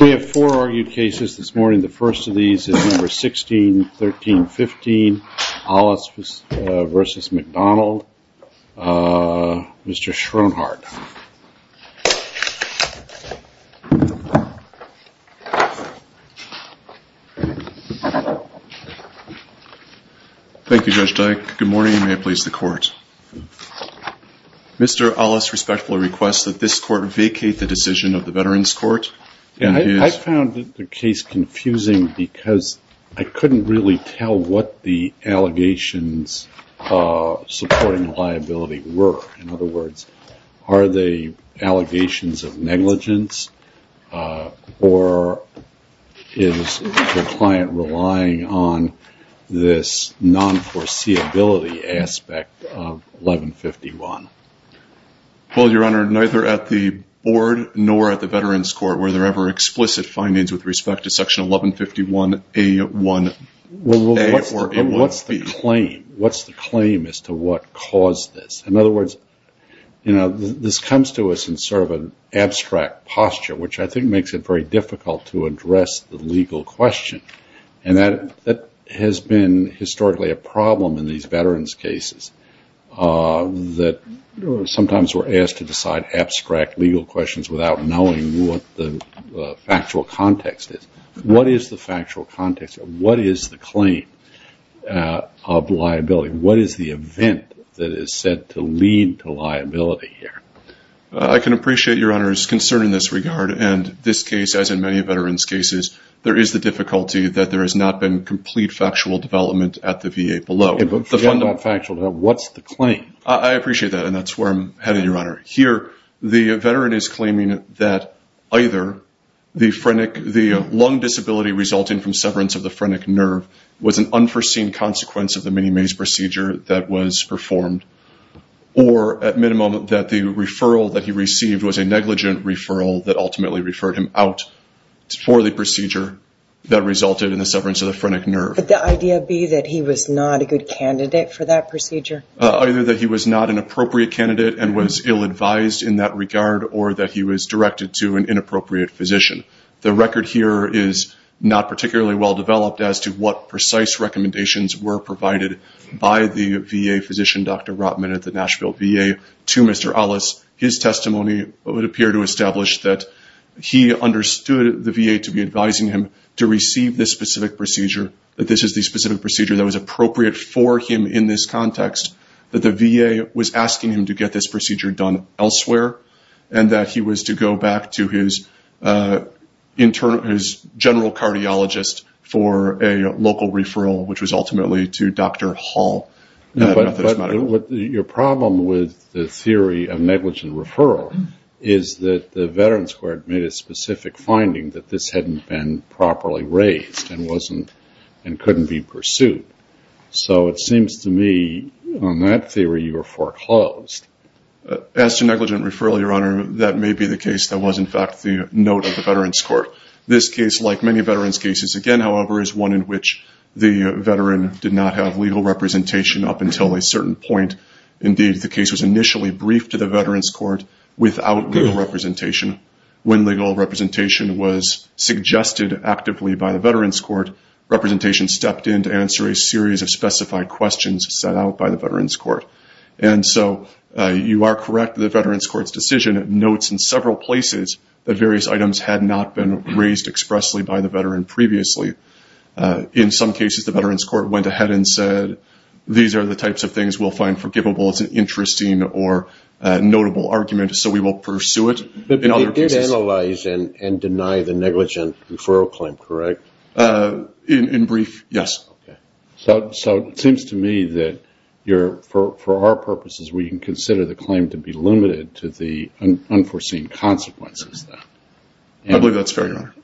We have four argued cases this morning. The first of these is No. 16-1315, Ollis v. McDonald. Mr. Schroenhardt. Thank you, Judge Dyke. Good morning, and may it please the Court. Mr. Ollis respectfully requests that this Court vacate the decision of the Veterans Court. I found the case confusing because I couldn't really tell what the allegations supporting liability were. In other words, are they allegations of negligence, or is the client relying on this non-foreseeability aspect of 1151? Well, Your Honor, neither at the Board nor at the Veterans Court were there ever explicit findings with respect to section 1151A1A or A1B. What's the claim? What's the claim as to what caused this? In other words, this comes to us in sort of an abstract posture, which I think makes it very difficult to address the legal question, and that has been historically a problem in these veterans' cases, that sometimes we're asked to decide abstract legal questions without knowing what the factual context is. What is the factual context? What is the claim of liability? What is the event that is said to lead to liability here? I can appreciate Your Honor's concern in this regard, and this case, as in many veterans' cases, there is the difficulty that there has not been complete factual development at the VA below. But forget about factual development. What's the claim? I appreciate that, and that's where I'm headed, Your Honor. Here, the veteran is claiming that either the lung disability resulting from severance of the phrenic nerve was an unforeseen consequence of the mini maze procedure that was performed, or at minimum, that the referral that he received was a negligent referral that ultimately referred him out for the procedure that resulted in the severance of the phrenic nerve. Could the idea be that he was not a good candidate for that procedure? Either that he was not an appropriate candidate and was ill-advised in that regard, or that he was directed to an inappropriate physician. The record here is not particularly well-developed as to what precise recommendations were provided by the VA physician, Dr. Rotman at the Nashville VA, to Mr. Ellis. His testimony would appear to establish that he understood the VA to be advising him to receive this specific procedure, that this is the specific procedure that was appropriate for him in this context, that the VA was asking him to get this procedure done elsewhere, and that he was to go back to his general cardiologist for a local referral, which was ultimately to Dr. Hall at Methodist Medical. Your problem with the theory of negligent referral is that the Veterans Court made a specific finding that this hadn't been properly raised and couldn't be pursued. So it seems to me, on that theory, you were foreclosed. As to negligent referral, Your Honor, that may be the case that was in fact the note of the Veterans Court. This case, like many veterans' cases, again, however, is one in which the veteran did not have legal representation up until a certain point. Indeed, the case was initially briefed to the Veterans Court without legal representation. When legal representation was suggested actively by the Veterans Court, representation stepped in to answer a series of specified questions set out by the Veterans Court. And so you are correct that the Veterans Court's decision notes in several places that various items had not been raised expressly by the veteran previously. In some cases, the Veterans Court went ahead and said, these are the types of things we'll find forgivable. It's an interesting or notable argument, so we will pursue it. But it did analyze and deny the negligent referral claim, correct? In brief, yes. So it seems to me that for our purposes, we can consider the claim to be limited to the unforeseen consequences then. I believe that's fair, Your Honor.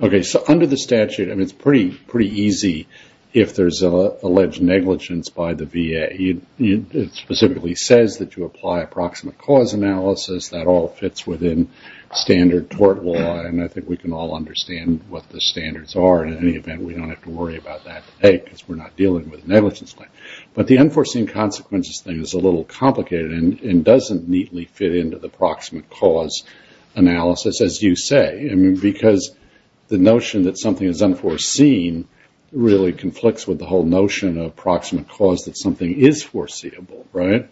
Okay. So under the statute, I mean, it's pretty easy if there's alleged negligence by the statute. It says that you apply a proximate cause analysis. That all fits within standard tort law, and I think we can all understand what the standards are. In any event, we don't have to worry about that today because we're not dealing with negligence claim. But the unforeseen consequences thing is a little complicated and doesn't neatly fit into the proximate cause analysis, as you say. I mean, because the notion that something is unforeseen really conflicts with the whole notion of proximate cause, that something is foreseeable, right?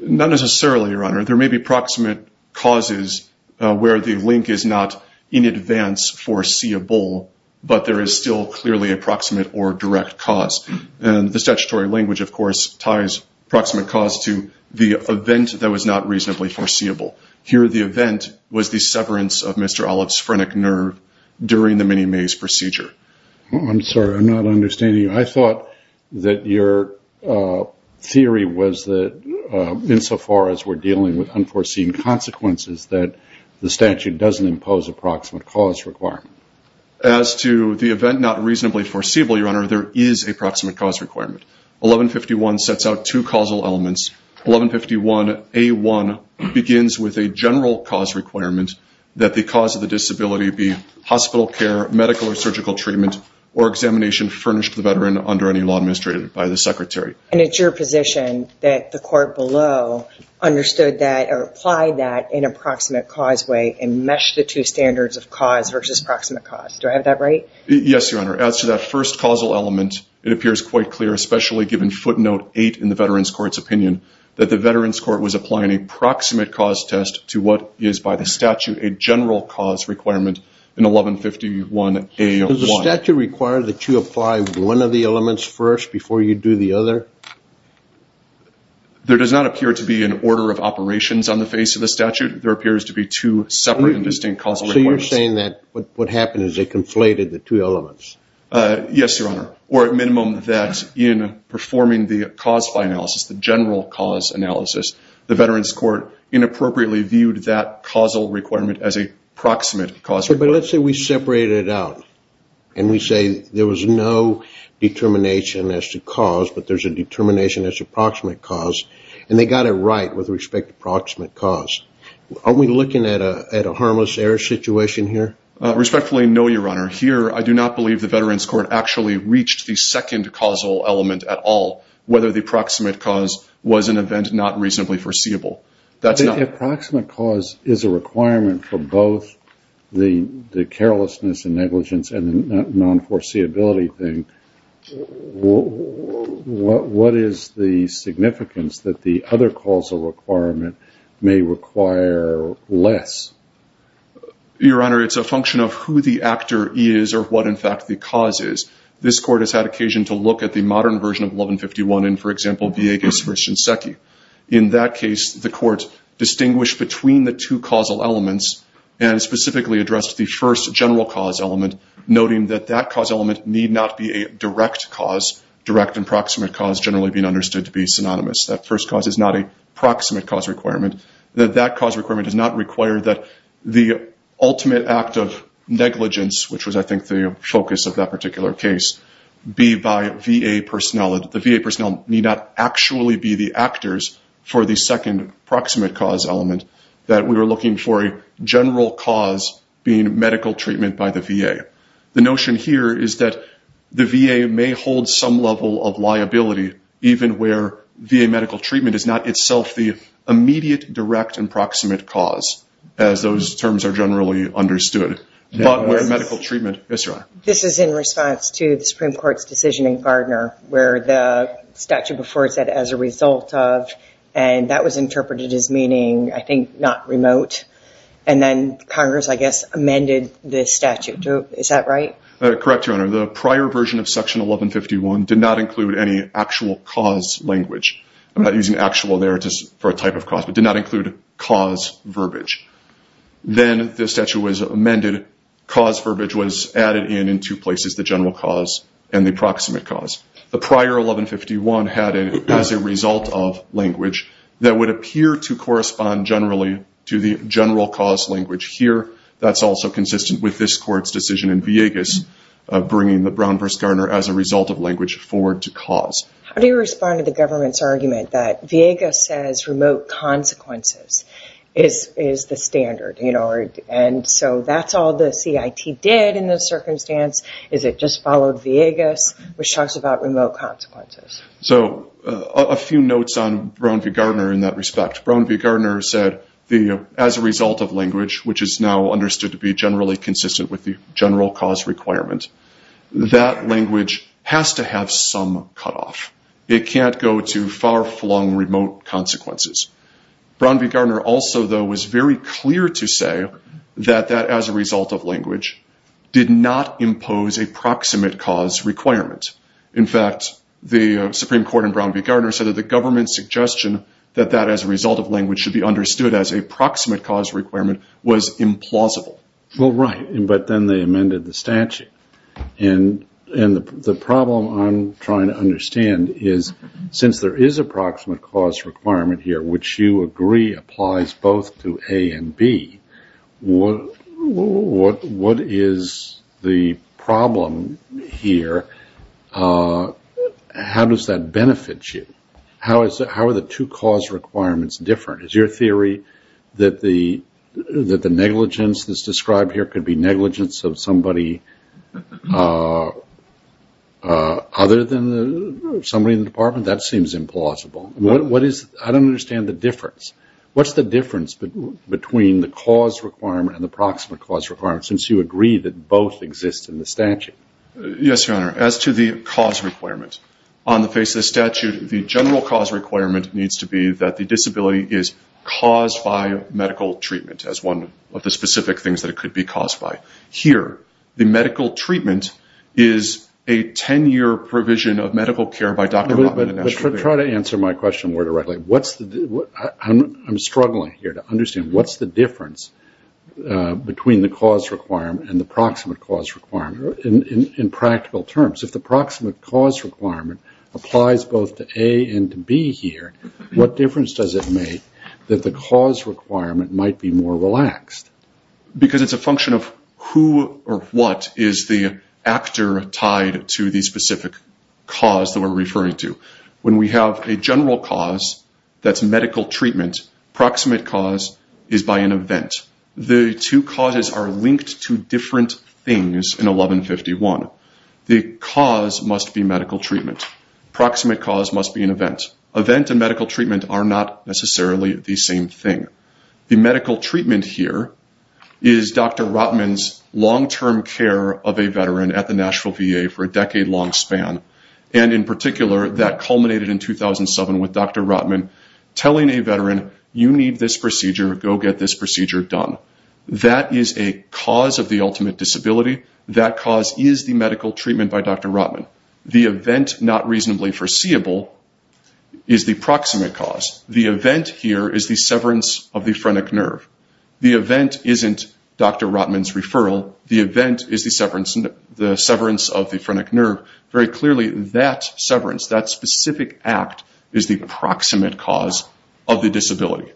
Not necessarily, Your Honor. There may be proximate causes where the link is not in advance foreseeable, but there is still clearly a proximate or direct cause. And the statutory language, of course, ties proximate cause to the event that was not reasonably foreseeable. Here the event was the severance of Mr. Olive's phrenic nerve during the mini-maze procedure. I'm sorry, I'm not understanding you. I thought that your theory was that insofar as we're dealing with unforeseen consequences, that the statute doesn't impose a proximate cause requirement. As to the event not reasonably foreseeable, Your Honor, there is a proximate cause requirement. 1151 sets out two causal elements. 1151A1 begins with a general cause requirement that the cause of the disability be hospital care, medical or surgical treatment, or examination furnished to the veteran under any law administrated by the Secretary. And it's your position that the court below understood that or applied that in a proximate cause way and meshed the two standards of cause versus proximate cause. Do I have that right? Yes, Your Honor. As to that first causal element, it appears quite clear, especially given footnote 8 in the Veterans Court's opinion, that the Veterans Court was applying a proximate cause test to what is by the statute a general cause requirement in 1151A1. Does the statute require that you apply one of the elements first before you do the other? There does not appear to be an order of operations on the face of the statute. There appears to be two separate and distinct causal requirements. So you're saying that what happened is they conflated the two elements? Yes, Your Honor. Or at minimum that in performing the cause by analysis, the general cause analysis, the Veterans Court inappropriately viewed that causal requirement as a proximate cause requirement. But let's say we separate it out and we say there was no determination as to cause, but there's a determination as to proximate cause, and they got it right with respect to proximate cause. Are we looking at a harmless error situation here? Respectfully, no, Your Honor. Here, I do not believe the Veterans Court actually reached the second causal element at all, whether the proximate cause was an event not reasonably foreseeable. The approximate cause is a requirement for both the carelessness and negligence and non-foreseeability thing. What is the significance that the other causal requirement may require less? Your Honor, it's a function of who the actor is or what, in fact, the cause is. This Court has had occasion to look at the modern version of 1151 in, for example, Viegas v. Shinseki. In that case, the Court distinguished between the two causal elements and specifically addressed the first general cause element, noting that that cause element need not be a direct cause, direct and proximate cause generally being understood to be synonymous. That first cause is not a proximate cause requirement. That that cause requirement does not require that the ultimate act of negligence, which was, I think, the focus of that particular case, be by VA personnel. The VA personnel need not actually be the actors for the second proximate cause element that we were looking for a general cause being medical treatment by the VA. The notion here is that the VA may hold some level of liability even where VA medical treatment is not itself the immediate, direct, and proximate cause, as those terms are generally understood. But with medical treatment, yes, Your Honor. This is in response to the Supreme Court's decision in Gardner where the statute before it said, as a result of, and that was interpreted as meaning, I think, not remote. And then Congress, I guess, amended this statute. Is that right? Correct, Your Honor. The prior version of Section 1151 did not include any actual cause language. I'm not using actual there for a type of cause. It did not include cause verbiage. Then the statute was amended. Cause verbiage was added in in two places, the general cause and the proximate cause. The prior 1151 had it as a result of language that would appear to correspond generally to the general cause language here. That's also consistent with this Court's decision in Villegas bringing the Brown v. Gardner as a result of language forward to cause. How do you respond to the government's argument that Villegas says remote consequences is the standard? And so that's all the CIT did in this circumstance, is it just followed Villegas, which talks about remote consequences? So a few notes on Brown v. Gardner in that respect. Brown v. Gardner said, as a result of language, which is now understood to be generally consistent with the general cause requirement, that language has to have some cutoff. It can't go to far-flung remote consequences. Brown v. Gardner also, though, was very clear to say that that as a result of language did not impose a proximate cause requirement. In fact, the Supreme Court in Brown v. Gardner said that the government's suggestion that that as a result of language should be understood as a proximate cause requirement was implausible. Well, right. But then they amended the statute. And the problem I'm trying to understand is since there is a proximate cause requirement here, which you agree applies both to A and B, what is the problem here? How does that benefit you? How are the two cause requirements different? Is your theory that the negligence that's described here could be negligence of somebody other than somebody in the department? That seems implausible. I don't understand the difference. What's the difference between the cause requirement and the proximate cause requirement, since you agree that both exist in the statute? Yes, Your Honor. As to the cause requirement, on the face of the statute, the general cause requirement needs to be that the disability is caused by medical treatment as one of the specific things that it could be caused by. Here, the medical treatment is a 10-year provision of medical care by Dr. Rotman and Asher. Try to answer my question more directly. I'm struggling here to understand what's the difference between the cause requirement and the proximate cause requirement in practical terms. If the difference does it make that the cause requirement might be more relaxed? Because it's a function of who or what is the actor tied to the specific cause that we're referring to. When we have a general cause that's medical treatment, proximate cause is by an event. The two causes are linked to different things in 1151. The cause must be medical treatment. Proximate cause must be an event. Event and medical treatment are not necessarily the same thing. The medical treatment here is Dr. Rotman's long-term care of a veteran at the Nashville VA for a decade-long span. In particular, that culminated in 2007 with Dr. Rotman telling a veteran, you need this procedure, go get this procedure done. That is a cause of the disability. The event not reasonably foreseeable is the proximate cause. The event here is the severance of the phrenic nerve. The event isn't Dr. Rotman's referral. The event is the severance of the phrenic nerve. Very clearly, that severance, that specific act is the proximate cause of the disability.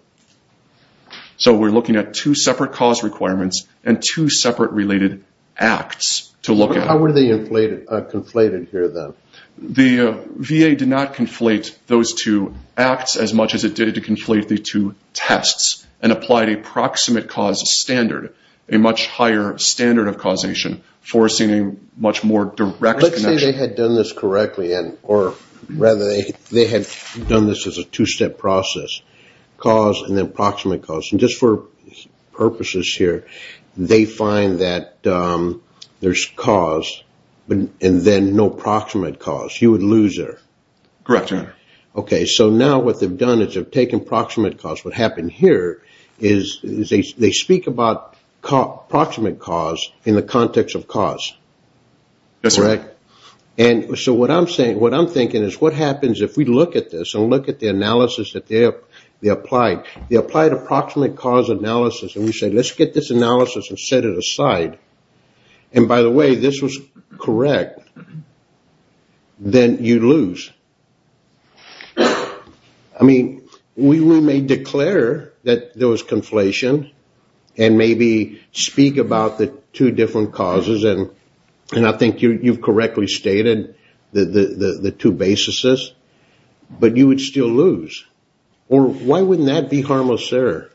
So we're looking at two separate cause requirements and two separate related acts to look at. How were they conflated here then? The VA did not conflate those two acts as much as it did to conflate the two tests and applied a proximate cause standard, a much higher standard of causation, forcing a much more direct connection. Let's say they had done this correctly, or rather they had done this as a two-step process, cause and then proximate cause. Just for purposes here, they find that there's cause and then no proximate cause. You would lose there. Correct. Okay. So now what they've done is they've taken proximate cause. What happened here is they speak about proximate cause in the context of cause. That's right. So what I'm saying, what I'm thinking is what happens if we look at this and look at the analysis that they applied. They applied a proximate cause analysis and we said, let's get this analysis and set it aside. By the way, this was correct. Then you lose. I mean, we may declare that there was conflation and maybe speak about the two different causes. I think you've correctly stated the two bases, but you would still lose. Or why wouldn't that be harmless error?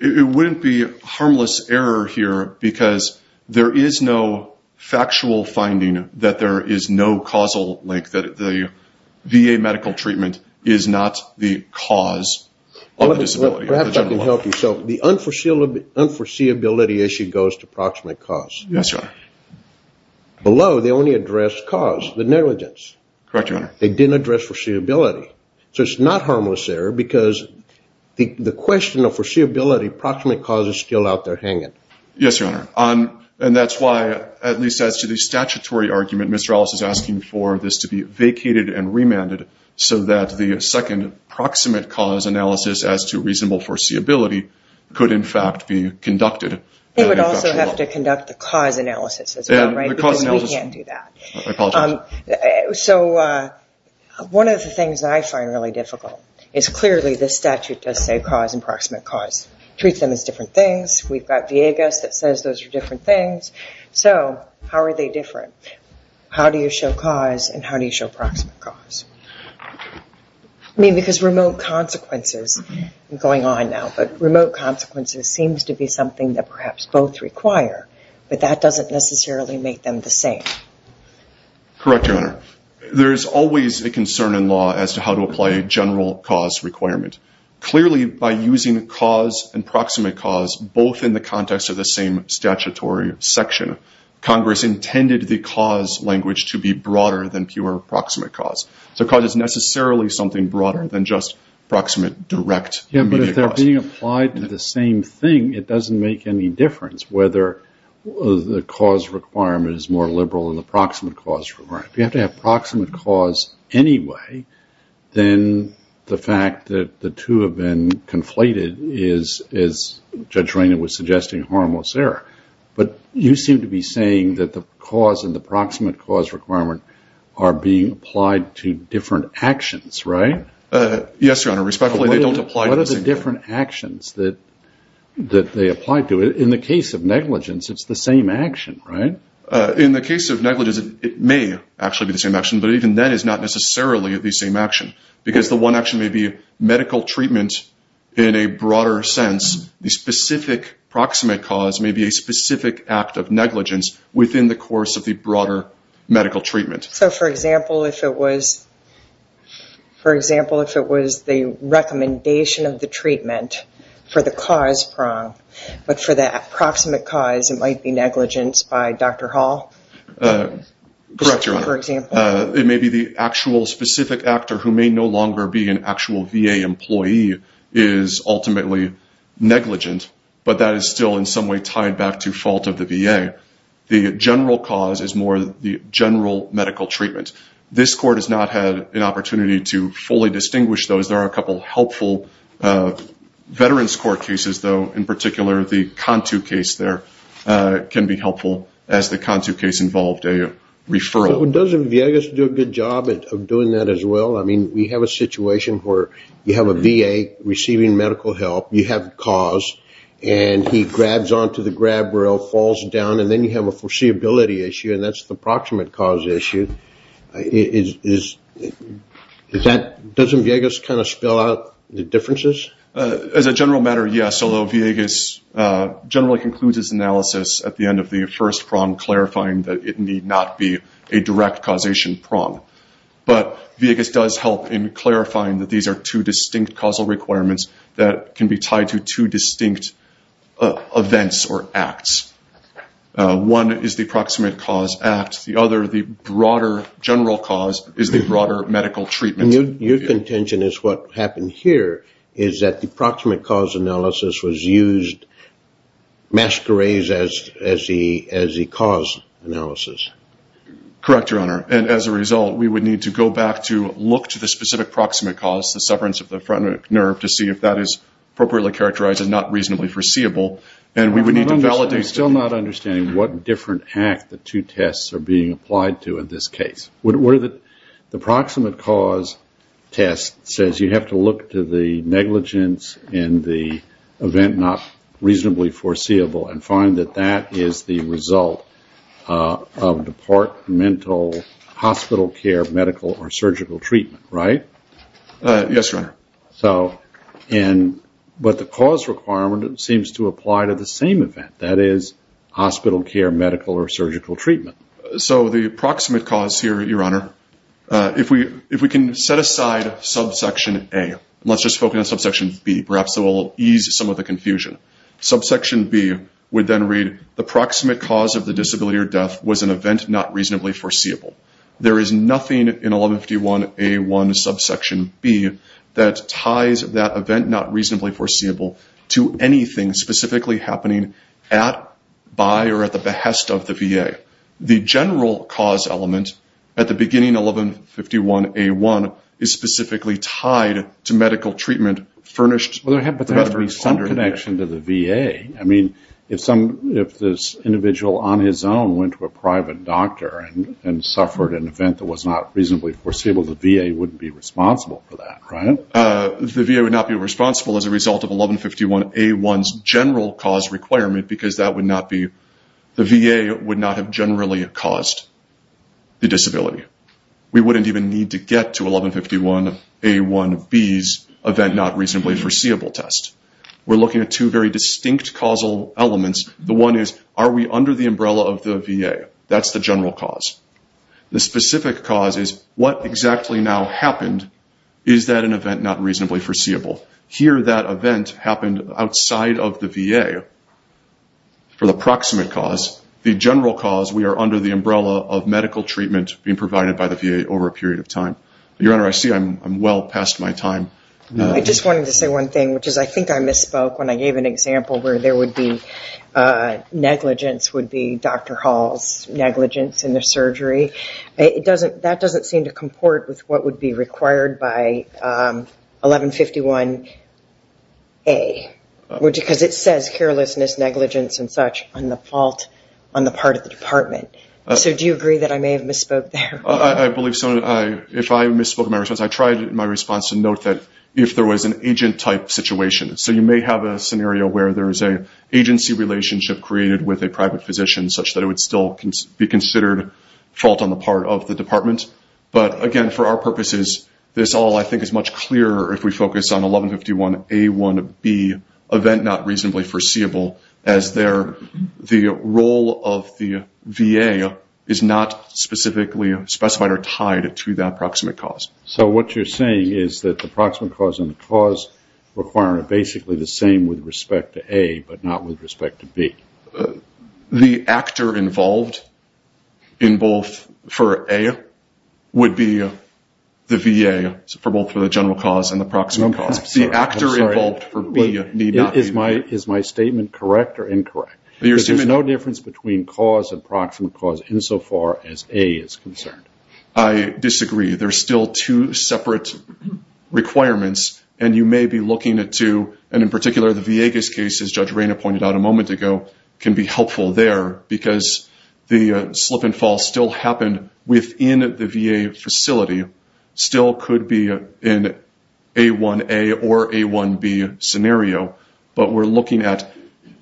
It wouldn't be harmless error here because there is no factual finding that there is no causal link, that the VA medical treatment is not the cause of the disability. Perhaps I can help you. So the unforeseeability issue goes to proximate cause. Yes, Your Honor. Below, they only address cause, the negligence. Correct, Your Honor. They didn't address foreseeability. So it's not harmless error because the question of foreseeability, proximate cause is still out there hanging. Yes, Your Honor. And that's why, at least as to the statutory argument, Ms. Rallis is asking for this to be vacated and remanded so that the second proximate cause analysis as to reasonable foreseeability could in fact be conducted. They would also have to conduct the cause analysis as well, right? Yes, the cause analysis. We can't do that. I apologize. So one of the things that I find really difficult is clearly the statute does say cause and proximate cause. Treat them as different things. We've got Viegas that says those are different things. So how are they different? How do you show cause and how do you show proximate cause? I mean, because remote consequences are going on now, but remote consequences seems to be something that perhaps both require. But that doesn't necessarily make them the same. Correct, Your Honor. There is always a concern in law as to how to apply a general cause requirement. Clearly by using cause and proximate cause both in the context of the same statutory section, Congress intended the cause language to be broader than pure proximate cause. So cause is necessarily something broader than just proximate direct immediate cause. Yeah, but if they're being applied to the same thing, it doesn't make any difference whether the cause requirement is more liberal than the proximate cause requirement. If you have to have proximate cause anyway, then the fact that the two have been conflated is, as Judge Rayner was suggesting, a harmless error. But you seem to be saying that the cause and the proximate cause requirement are being Yes, Your Honor. What are the different actions that they apply to? In the case of negligence, it's the same action, right? In the case of negligence, it may actually be the same action, but even then it's not necessarily the same action. Because the one action may be medical treatment in a broader sense. The specific proximate cause may be a specific act of negligence within the course of the broader medical treatment. So, for example, if it was the recommendation of the treatment for the cause prong, but for the proximate cause, it might be negligence by Dr. Hall? Correct, Your Honor. For example? It may be the actual specific actor who may no longer be an actual VA employee is ultimately negligent, but that is still in some way tied back to fault of the VA. The general cause is more the general medical treatment. This Court has not had an opportunity to fully distinguish those. There are a couple helpful Veterans Court cases, though, in particular the Contu case there can be helpful, as the Contu case involved a referral. So doesn't Viegas do a good job of doing that as well? I mean, we have a situation where you have a VA receiving medical help. You have a cause, and he grabs on to the grab rail, falls down, and then you have a foreseeability issue, and that's the proximate cause issue. Doesn't Viegas kind of spell out the differences? As a general matter, yes, although Viegas generally concludes his analysis at the end of the first prong, clarifying that it need not be a direct causation prong. But Viegas does help in clarifying that these are two distinct causal requirements that can be tied to two distinct events or acts. One is the proximate cause act. The other, the broader general cause, is the broader medical treatment. Your contention is what happened here is that the proximate cause analysis was used, masquerades as the cause analysis. Correct, Your Honor. And as a result, we would need to go back to look to the specific proximate cause, the sufferance of the front nerve, to see if that is appropriately characterized and not reasonably foreseeable, and we would need to validate. I'm still not understanding what different act the two tests are being applied to in this case. The proximate cause test says you have to look to the negligence in the event not reasonably foreseeable and find that that is the result of departmental hospital care medical or surgical treatment, right? Yes, Your Honor. But the cause requirement seems to apply to the same event, that is, hospital care medical or surgical treatment. So the proximate cause here, Your Honor, if we can set aside subsection A, and let's just focus on subsection B, perhaps it will ease some of the confusion. Subsection B would then read the proximate cause of the disability or death was an event not reasonably foreseeable. There is nothing in 1151A1 subsection B that ties that event not reasonably foreseeable to anything specifically happening at, by, or at the behest of the VA. The general cause element at the beginning, 1151A1, is specifically tied to medical treatment furnished. But there has to be some connection to the VA. I mean, if some, if this individual on his own went to a private doctor and suffered an event that was not reasonably foreseeable, the VA wouldn't be responsible for that, right? The VA would not be responsible as a result of 1151A1's general cause requirement because that would not be, the VA would not have generally caused the disability. We wouldn't even need to get to 1151A1B's event not reasonably foreseeable test. We're looking at two very distinct causal elements. The one is, are we under the umbrella of the VA? That's the general cause. The specific cause is, what exactly now happened? Is that an event not reasonably foreseeable? Here that event happened outside of the VA for the proximate cause. The general cause, we are under the umbrella of medical treatment being provided by the VA over a period of time. Your Honor, I see I'm well past my time. I just wanted to say one thing, which is I think I misspoke when I gave an example where there would be negligence would be Dr. Hall's negligence in the surgery. That doesn't seem to comport with what would be required by 1151A because it says carelessness, negligence, and such on the part of the department. So do you agree that I may have misspoke there? I believe so. Your Honor, if I misspoke in my response, I tried in my response to note that if there was an agent-type situation, so you may have a scenario where there is an agency relationship created with a private physician such that it would still be considered fault on the part of the department. But, again, for our purposes, this all I think is much clearer if we focus on 1151A1B, event not reasonably foreseeable, as the role of the VA is not specifically specified or tied to that proximate cause. So what you're saying is that the proximate cause and the cause requirement are basically the same with respect to A but not with respect to B? The actor involved in both for A would be the VA for both for the general cause and the proximate cause. The actor involved for B need not be involved. Is my statement correct or incorrect? There's no difference between cause and proximate cause insofar as A is concerned. I disagree. There's still two separate requirements, and you may be looking at two, and in particular the Viegas case, as Judge Rayna pointed out a moment ago, can be helpful there because the slip and fall still happened within the VA facility, still could be in A1A or A1B scenario, but we're looking at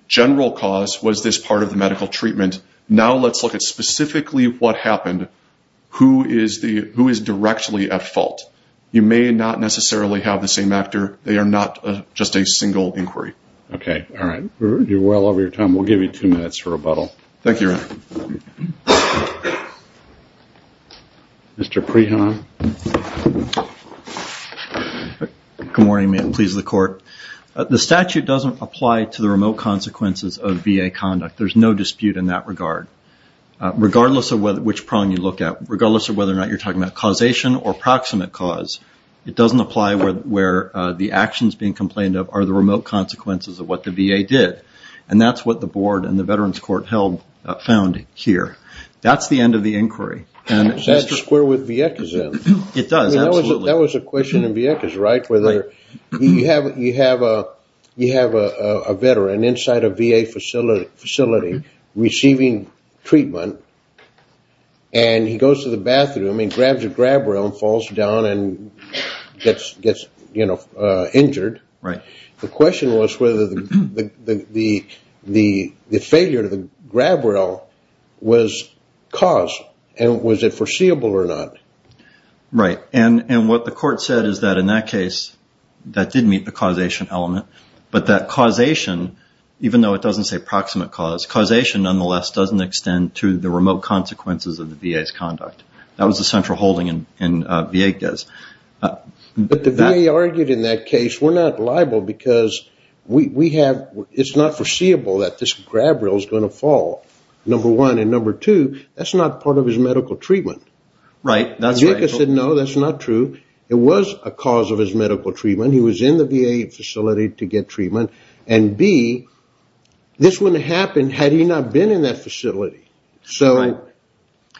general cause, was this part of the medical treatment? Now let's look at specifically what happened, who is directly at fault. You may not necessarily have the same actor. They are not just a single inquiry. Okay, all right. We're well over your time. Thank you, Rayna. Mr. Prehon. Good morning. May it please the Court. The statute doesn't apply to the remote consequences of VA conduct. There's no dispute in that regard. Regardless of which prong you look at, regardless of whether or not you're talking about causation or proximate cause, it doesn't apply where the actions being complained of are the remote consequences of what the VA did, and that's what the Board and the Veterans Court found here. That's the end of the inquiry. That's the square with Vieques in. It does, absolutely. That was a question in Vieques, right, where you have a veteran inside a VA facility receiving treatment, and he goes to the bathroom and grabs a grab rail and falls down and gets injured. Right. The question was whether the failure to grab rail was caused, and was it foreseeable or not. Right. And what the Court said is that in that case, that did meet the causation element, but that causation, even though it doesn't say proximate cause, causation nonetheless doesn't extend to the remote consequences of the VA's conduct. That was the central holding in Vieques. But the VA argued in that case, we're not liable because it's not foreseeable that this grab rail is going to fall, number one. And number two, that's not part of his medical treatment. Right, that's right. Vieques said, no, that's not true. It was a cause of his medical treatment. He was in the VA facility to get treatment. And B, this wouldn't have happened had he not been in that facility. So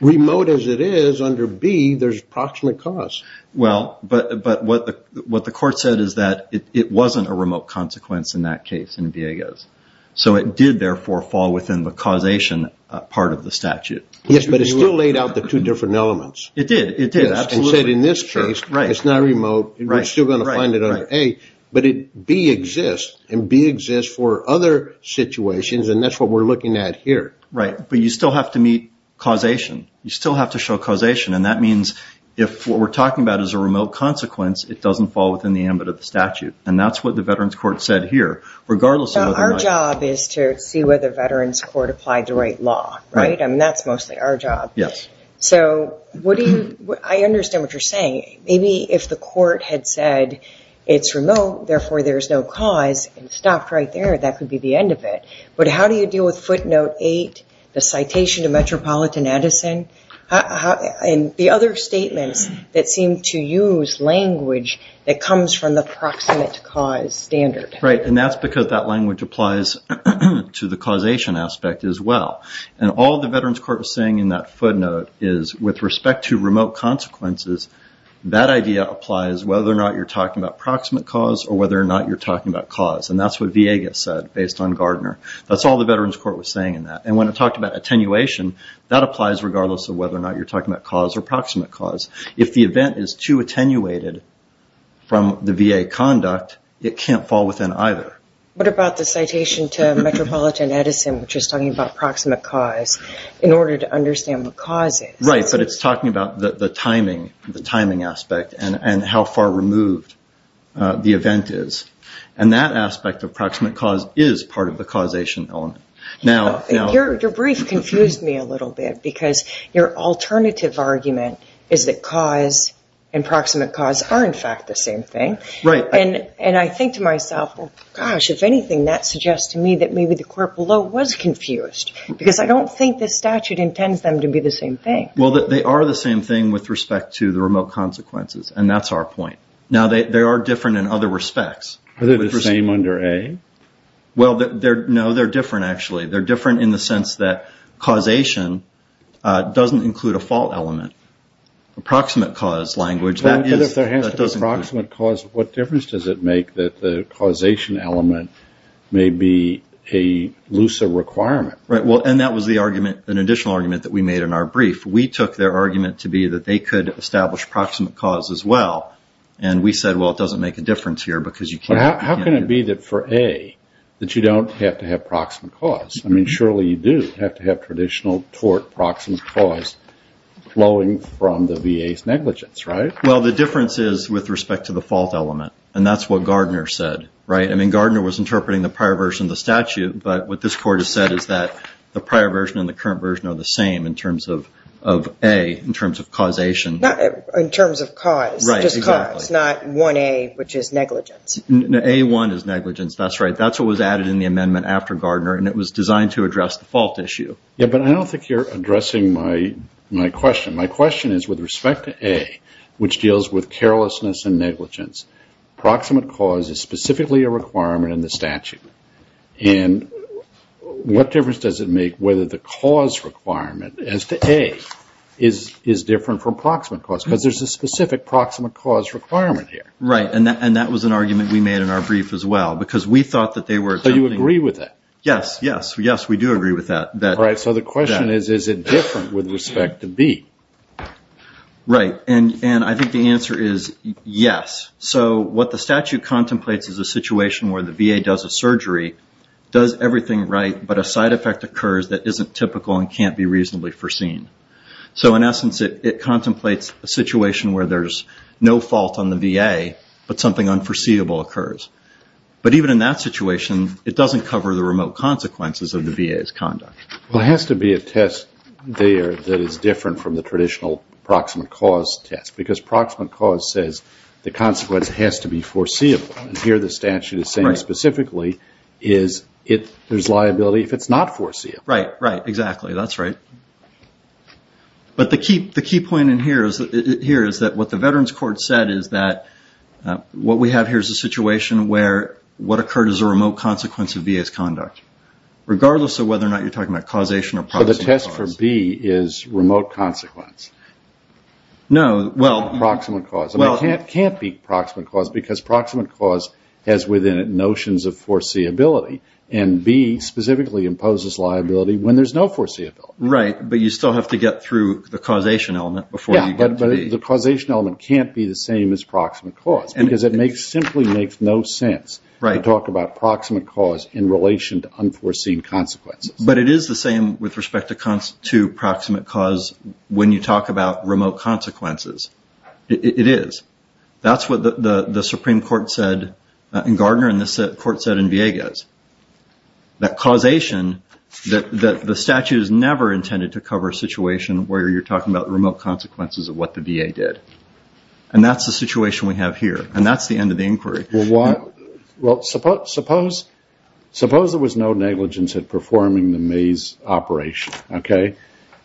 remote as it is, under B, there's proximate cause. Well, but what the Court said is that it wasn't a remote consequence in that case in Vieques. So it did, therefore, fall within the causation part of the statute. Yes, but it still laid out the two different elements. It did, it did, absolutely. And said in this case, it's not remote. We're still going to find it under A. But B exists, and B exists for other situations, and that's what we're looking at here. Right, but you still have to meet causation. You still have to show causation. And that means if what we're talking about is a remote consequence, it doesn't fall within the ambit of the statute. And that's what the Veterans Court said here. So our job is to see whether Veterans Court applied the right law, right? I mean, that's mostly our job. Yes. So I understand what you're saying. Maybe if the Court had said it's remote, therefore, there's no cause, and stopped right there, that could be the end of it. But how do you deal with footnote 8, the citation to Metropolitan Edison, and the other statements that seem to use language that comes from the proximate cause standard? Right, and that's because that language applies to the causation aspect as well. And all the Veterans Court was saying in that footnote is, with respect to remote consequences, that idea applies whether or not you're talking about proximate cause or whether or not you're talking about cause. And that's what VA said, based on Gardner. That's all the Veterans Court was saying in that. And when it talked about attenuation, that applies regardless of whether or not you're talking about cause or proximate cause. If the event is too attenuated from the VA conduct, it can't fall within either. What about the citation to Metropolitan Edison, which is talking about proximate cause, in order to understand what cause is? Right, but it's talking about the timing aspect and how far removed the event is. And that aspect of proximate cause is part of the causation element. Your brief confused me a little bit, because your alternative argument is that cause and proximate cause are, in fact, the same thing. Right. And I think to myself, gosh, if anything, that suggests to me that maybe the court below was confused, because I don't think this statute intends them to be the same thing. Well, they are the same thing with respect to the remote consequences, and that's our point. Now, they are different in other respects. Are they the same under A? Well, no, they're different, actually. They're different in the sense that causation doesn't include a fault element. A proximate cause language, that is. But if there has to be proximate cause, what difference does it make that the causation element may be a looser requirement? Right. And that was the argument, an additional argument, that we made in our brief. We took their argument to be that they could establish proximate cause as well, and we said, well, it doesn't make a difference here because you can't. How can it be that for A that you don't have to have proximate cause? I mean, surely you do have to have traditional tort proximate cause flowing from the VA's negligence, right? Well, the difference is with respect to the fault element, and that's what Gardner said, right? I mean, Gardner was interpreting the prior version of the statute, but what this court has said is that the prior version and the current version are the same in terms of A, in terms of causation. In terms of cause, just cause, not 1A, which is negligence. No, A1 is negligence. That's right. That's what was added in the amendment after Gardner, and it was designed to address the fault issue. Yeah, but I don't think you're addressing my question. My question is with respect to A, which deals with carelessness and negligence, proximate cause is specifically a requirement in the statute. And what difference does it make whether the cause requirement as to A is different from proximate cause? Because there's a specific proximate cause requirement here. Right, and that was an argument we made in our brief as well, because we thought that they were... So you agree with that? Yes, yes, yes, we do agree with that. All right, so the question is, is it different with respect to B? Right, and I think the answer is yes. So what the statute contemplates is a situation where the VA does a surgery, does everything right, but a side effect occurs that isn't typical and can't be reasonably foreseen. So in essence, it contemplates a situation where there's no fault on the VA, but something unforeseeable occurs. But even in that situation, it doesn't cover the remote consequences of the VA's conduct. Well, it has to be a test there that is different from the traditional proximate cause test, because proximate cause says the consequence has to be foreseeable. And here the statute is saying specifically there's liability if it's not foreseeable. Right, right, exactly, that's right. But the key point in here is that what the Veterans Court said is that what we have here is a situation where what occurred is a remote consequence of VA's conduct, regardless of whether or not you're talking about causation or proximate cause. So the test for B is remote consequence? No. Proximate cause. It can't be proximate cause, because proximate cause has within it notions of foreseeability, and B specifically imposes liability when there's no foreseeability. Right, but you still have to get through the causation element before you get to B. Yeah, but the causation element can't be the same as proximate cause, because it simply makes no sense to talk about proximate cause in relation to unforeseen consequences. But it is the same with respect to proximate cause when you talk about remote consequences. It is. That's what the Supreme Court said in Gardner and the court said in Villegas. That causation, the statute is never intended to cover a situation where you're talking about remote consequences of what the VA did. And that's the situation we have here, and that's the end of the inquiry. Well, suppose there was no negligence at performing the maze operation, okay?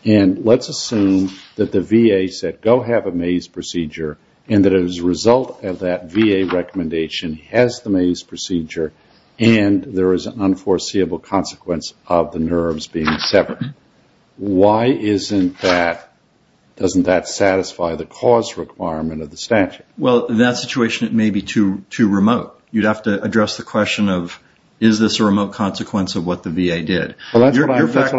And let's assume that the VA said, go have a maze procedure, and that as a result of that VA recommendation has the maze procedure and there is an unforeseeable consequence of the nerves being severed. Why isn't that, doesn't that satisfy the cause requirement of the statute? Well, in that situation it may be too remote. You'd have to address the question of, is this a remote consequence of what the VA did? Well, that's what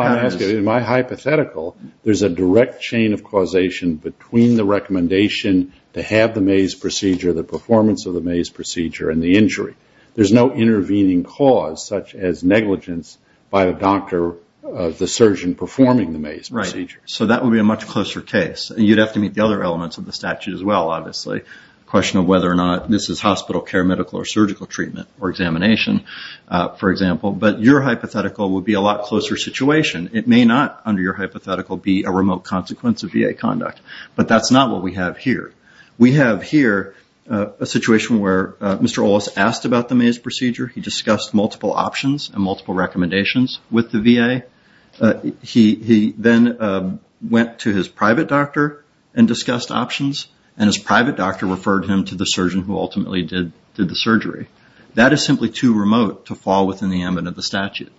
I'm asking. In my hypothetical, there's a direct chain of causation between the recommendation to have the maze procedure, the performance of the maze procedure, and the injury. There's no intervening cause such as negligence by the surgeon performing the maze procedure. Right. So that would be a much closer case. And you'd have to meet the other elements of the statute as well, obviously. The question of whether or not this is hospital care, medical or surgical treatment, or examination, for example. But your hypothetical would be a lot closer situation. It may not, under your hypothetical, be a remote consequence of VA conduct. But that's not what we have here. We have here a situation where Mr. Olis asked about the maze procedure. He discussed multiple options and multiple recommendations with the VA. He then went to his private doctor and discussed options. And his private doctor referred him to the surgeon who ultimately did the surgery. That is simply too remote to fall within the ambit of the statute.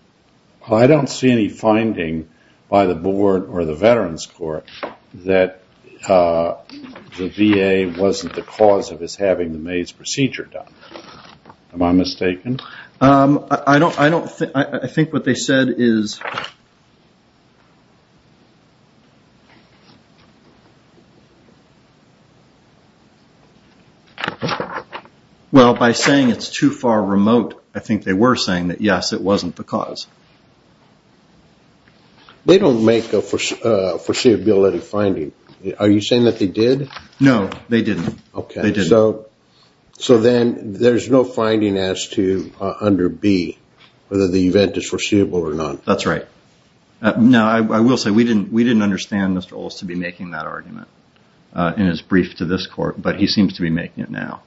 I don't see any finding by the board or the Veterans Court that the VA wasn't the cause of his having the maze procedure done. Am I mistaken? I don't think. I think what they said is, well, by saying it's too far remote, I think they were saying that, yes, it wasn't the cause. They don't make a foreseeability finding. Are you saying that they did? No, they didn't. So then there's no finding as to, under B, whether the event is foreseeable or not. That's right. No, I will say we didn't understand Mr. Olis to be making that argument in his brief to this court, but he seems to be making it now.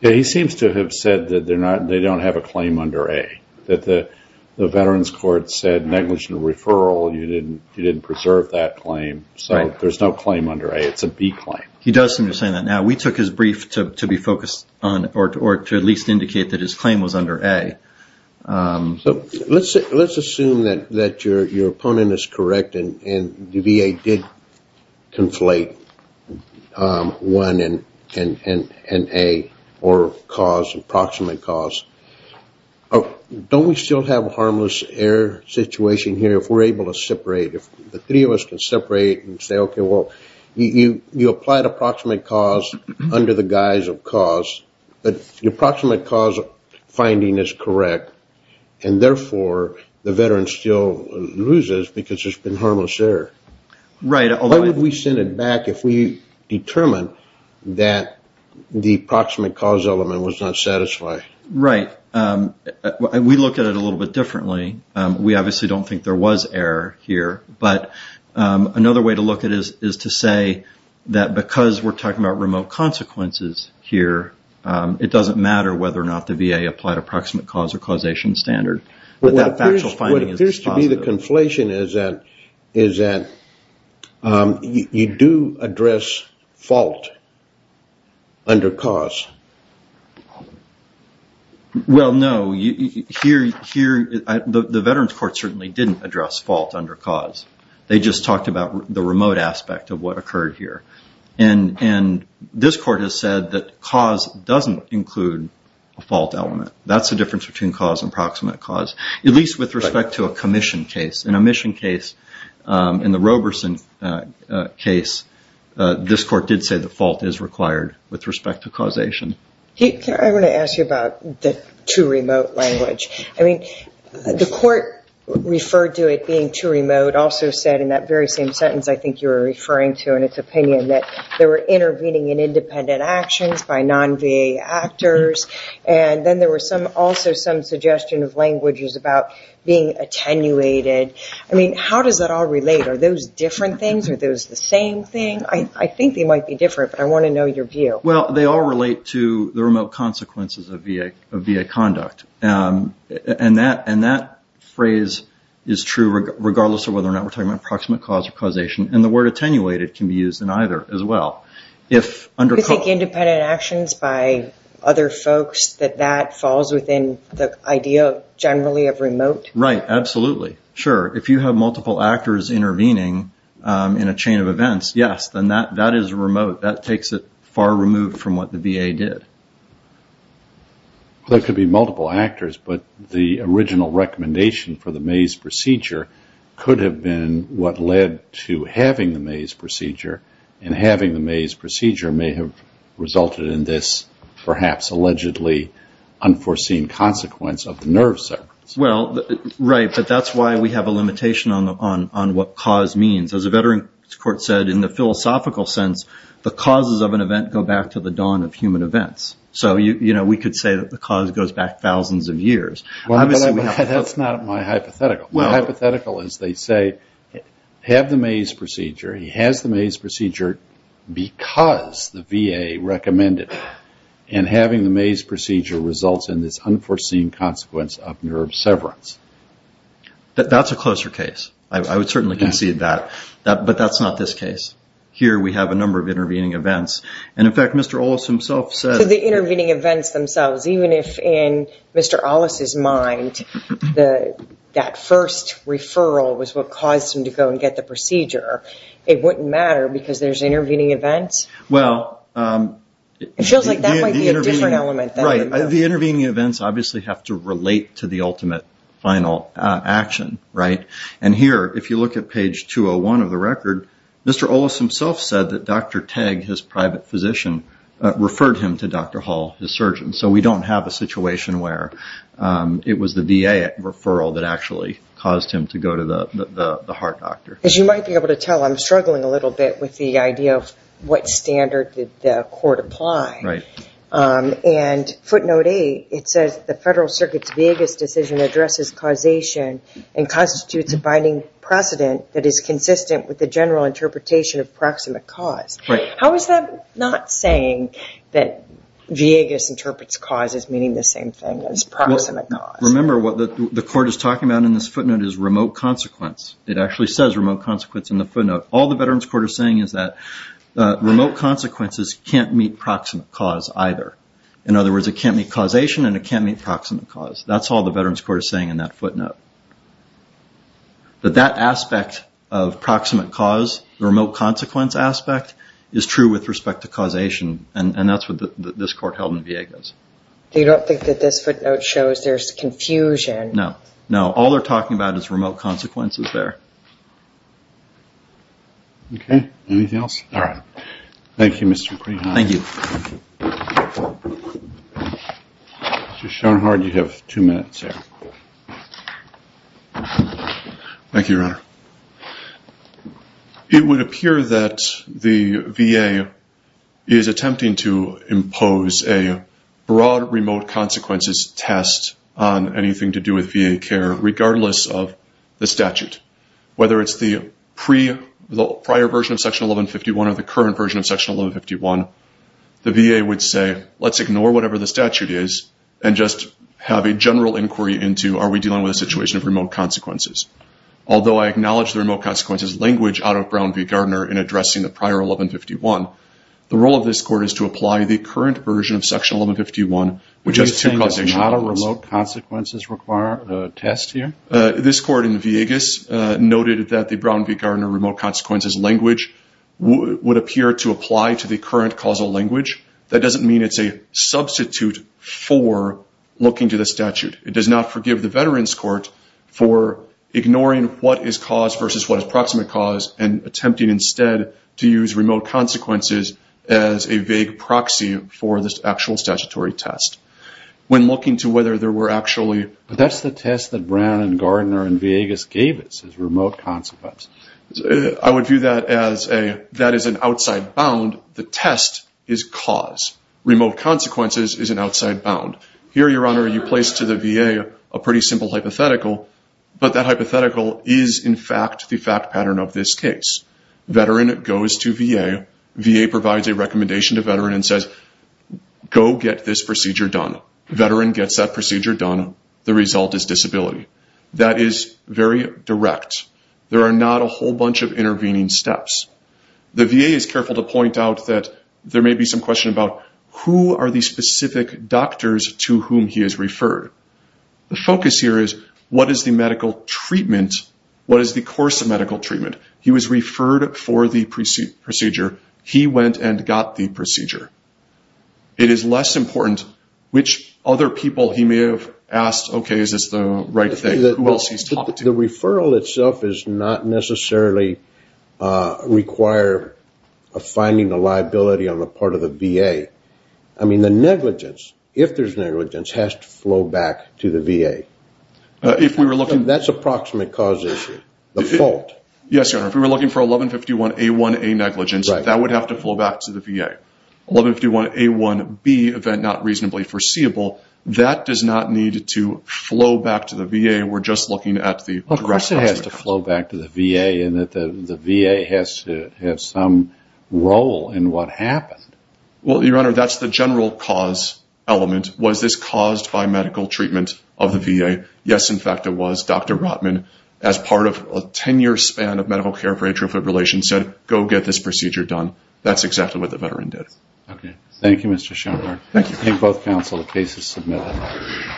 He seems to have said that they don't have a claim under A, that the Veterans Court said negligent referral, you didn't preserve that claim. So there's no claim under A. It's a B claim. He does seem to be saying that now. We took his brief to be focused on or to at least indicate that his claim was under A. So let's assume that your opponent is correct and the VA did conflate 1 and A or cause, approximate cause. Don't we still have a harmless error situation here if we're able to separate, if the three of us can separate and say, okay, well, you applied approximate cause under the guise of cause, but the approximate cause finding is correct, and therefore the veteran still loses because there's been harmless error. Right. Why would we send it back if we determined that the approximate cause element was not satisfied? Right. We look at it a little bit differently. We obviously don't think there was error here, but another way to look at it is to say that because we're talking about remote consequences here, it doesn't matter whether or not the VA applied approximate cause or causation standard. What appears to be the conflation is that you do address fault under cause. Well, no. The veterans court certainly didn't address fault under cause. They just talked about the remote aspect of what occurred here, and this court has said that cause doesn't include a fault element. That's the difference between cause and approximate cause, at least with respect to a commission case. In a mission case, in the Roberson case, this court did say the fault is required with respect to causation. I want to ask you about the too remote language. I mean, the court referred to it being too remote, also said in that very same sentence I think you were referring to in its opinion, that they were intervening in independent actions by non-VA actors, and then there was also some suggestion of languages about being attenuated. I mean, how does that all relate? Are those different things? Are those the same thing? I think they might be different, but I want to know your view. Well, they all relate to the remote consequences of VA conduct, and that phrase is true regardless of whether or not we're talking about approximate cause or causation, and the word attenuated can be used in either as well. You think independent actions by other folks, that that falls within the idea generally of remote? Right. Absolutely. Sure. If you have multiple actors intervening in a chain of events, yes, then that is remote. That takes it far removed from what the VA did. There could be multiple actors, but the original recommendation for the Mays procedure could have been what led to having the Mays procedure, and having the Mays procedure may have resulted in this perhaps allegedly unforeseen consequence of the nerve circuit. Well, right, but that's why we have a limitation on what cause means. As a veteran's court said, in the philosophical sense, the causes of an event go back to the dawn of human events. So, you know, we could say that the cause goes back thousands of years. That's not my hypothetical. My hypothetical is they say have the Mays procedure. He has the Mays procedure because the VA recommended it, and having the Mays procedure results in this unforeseen consequence of the nerve severance. That's a closer case. I would certainly concede that. But that's not this case. Here we have a number of intervening events. And, in fact, Mr. Ollis himself said. So the intervening events themselves, even if in Mr. Ollis' mind, that first referral was what caused him to go and get the procedure, it wouldn't matter because there's intervening events? Well. It feels like that might be a different element. Right. The intervening events obviously have to relate to the ultimate final action, right? And here, if you look at page 201 of the record, Mr. Ollis himself said that Dr. Tagg, his private physician, referred him to Dr. Hall, his surgeon. So we don't have a situation where it was the VA referral that actually caused him to go to the heart doctor. As you might be able to tell, I'm struggling a little bit with the idea of what standard did the court apply. Right. And footnote 8, it says, the Federal Circuit's Villegas decision addresses causation and constitutes a binding precedent that is consistent with the general interpretation of proximate cause. Right. How is that not saying that Villegas interprets cause as meaning the same thing as proximate cause? Remember what the court is talking about in this footnote is remote consequence. It actually says remote consequence in the footnote. All the Veterans Court is saying is that remote consequences can't meet proximate cause either. In other words, it can't meet causation and it can't meet proximate cause. That's all the Veterans Court is saying in that footnote. But that aspect of proximate cause, the remote consequence aspect, is true with respect to causation, and that's what this court held in Villegas. You don't think that this footnote shows there's confusion? No. No. All they're talking about is remote consequences there. Okay. Anything else? All right. Thank you, Mr. Greenhorn. Thank you. Mr. Schoenhardt, you have two minutes here. Thank you, Your Honor. It would appear that the VA is attempting to impose a broad remote consequences test on anything to do with VA care, regardless of the statute, whether it's the prior version of Section 1151 or the current version of Section 1151. The VA would say, let's ignore whatever the statute is and just have a general inquiry into, are we dealing with a situation of remote consequences? Although I acknowledge the remote consequences language out of Brown v. Gardner in addressing the prior 1151, the role of this court is to apply the current version of Section 1151, which has two causation elements. Are you saying that there's not a remote consequences test here? This court in Villegas noted that the Brown v. Gardner remote consequences language would appear to apply to the current causal language. That doesn't mean it's a substitute for looking to the statute. It does not forgive the Veterans Court for ignoring what is cause versus what is proximate cause and attempting instead to use remote consequences as a vague proxy for this actual statutory test. When looking to whether there were actually – But that's the test that Brown v. Gardner in Villegas gave us, is remote consequences. I would view that as a – that is an outside bound. The test is cause. Remote consequences is an outside bound. Here, Your Honor, you place to the VA a pretty simple hypothetical, but that hypothetical is in fact the fact pattern of this case. Veteran goes to VA. VA provides a recommendation to Veteran and says, go get this procedure done. Veteran gets that procedure done. The result is disability. That is very direct. There are not a whole bunch of intervening steps. The VA is careful to point out that there may be some question about who are the specific doctors to whom he has referred. The focus here is what is the medical treatment, what is the course of medical treatment. He was referred for the procedure. He went and got the procedure. It is less important which other people he may have asked, okay, is this the right thing, who else he's talking to. The referral itself does not necessarily require finding the liability on the part of the VA. The negligence, if there's negligence, has to flow back to the VA. That's a proximate cause issue, the fault. Yes, Your Honor. If we were looking for 1151A1A negligence, that would have to flow back to the VA. 1151A1B, event not reasonably foreseeable, that does not need to flow back to the VA. We're just looking at the direct consequences. Of course it has to flow back to the VA, and the VA has to have some role in what happened. Well, Your Honor, that's the general cause element. Was this caused by medical treatment of the VA? Yes, in fact, it was. Dr. Rotman, as part of a 10-year span of medical care for atrial fibrillation, said go get this procedure done. That's exactly what the veteran did. Okay. Thank you, Mr. Schoenberg. Thank you. Thank both counsel. The case is submitted.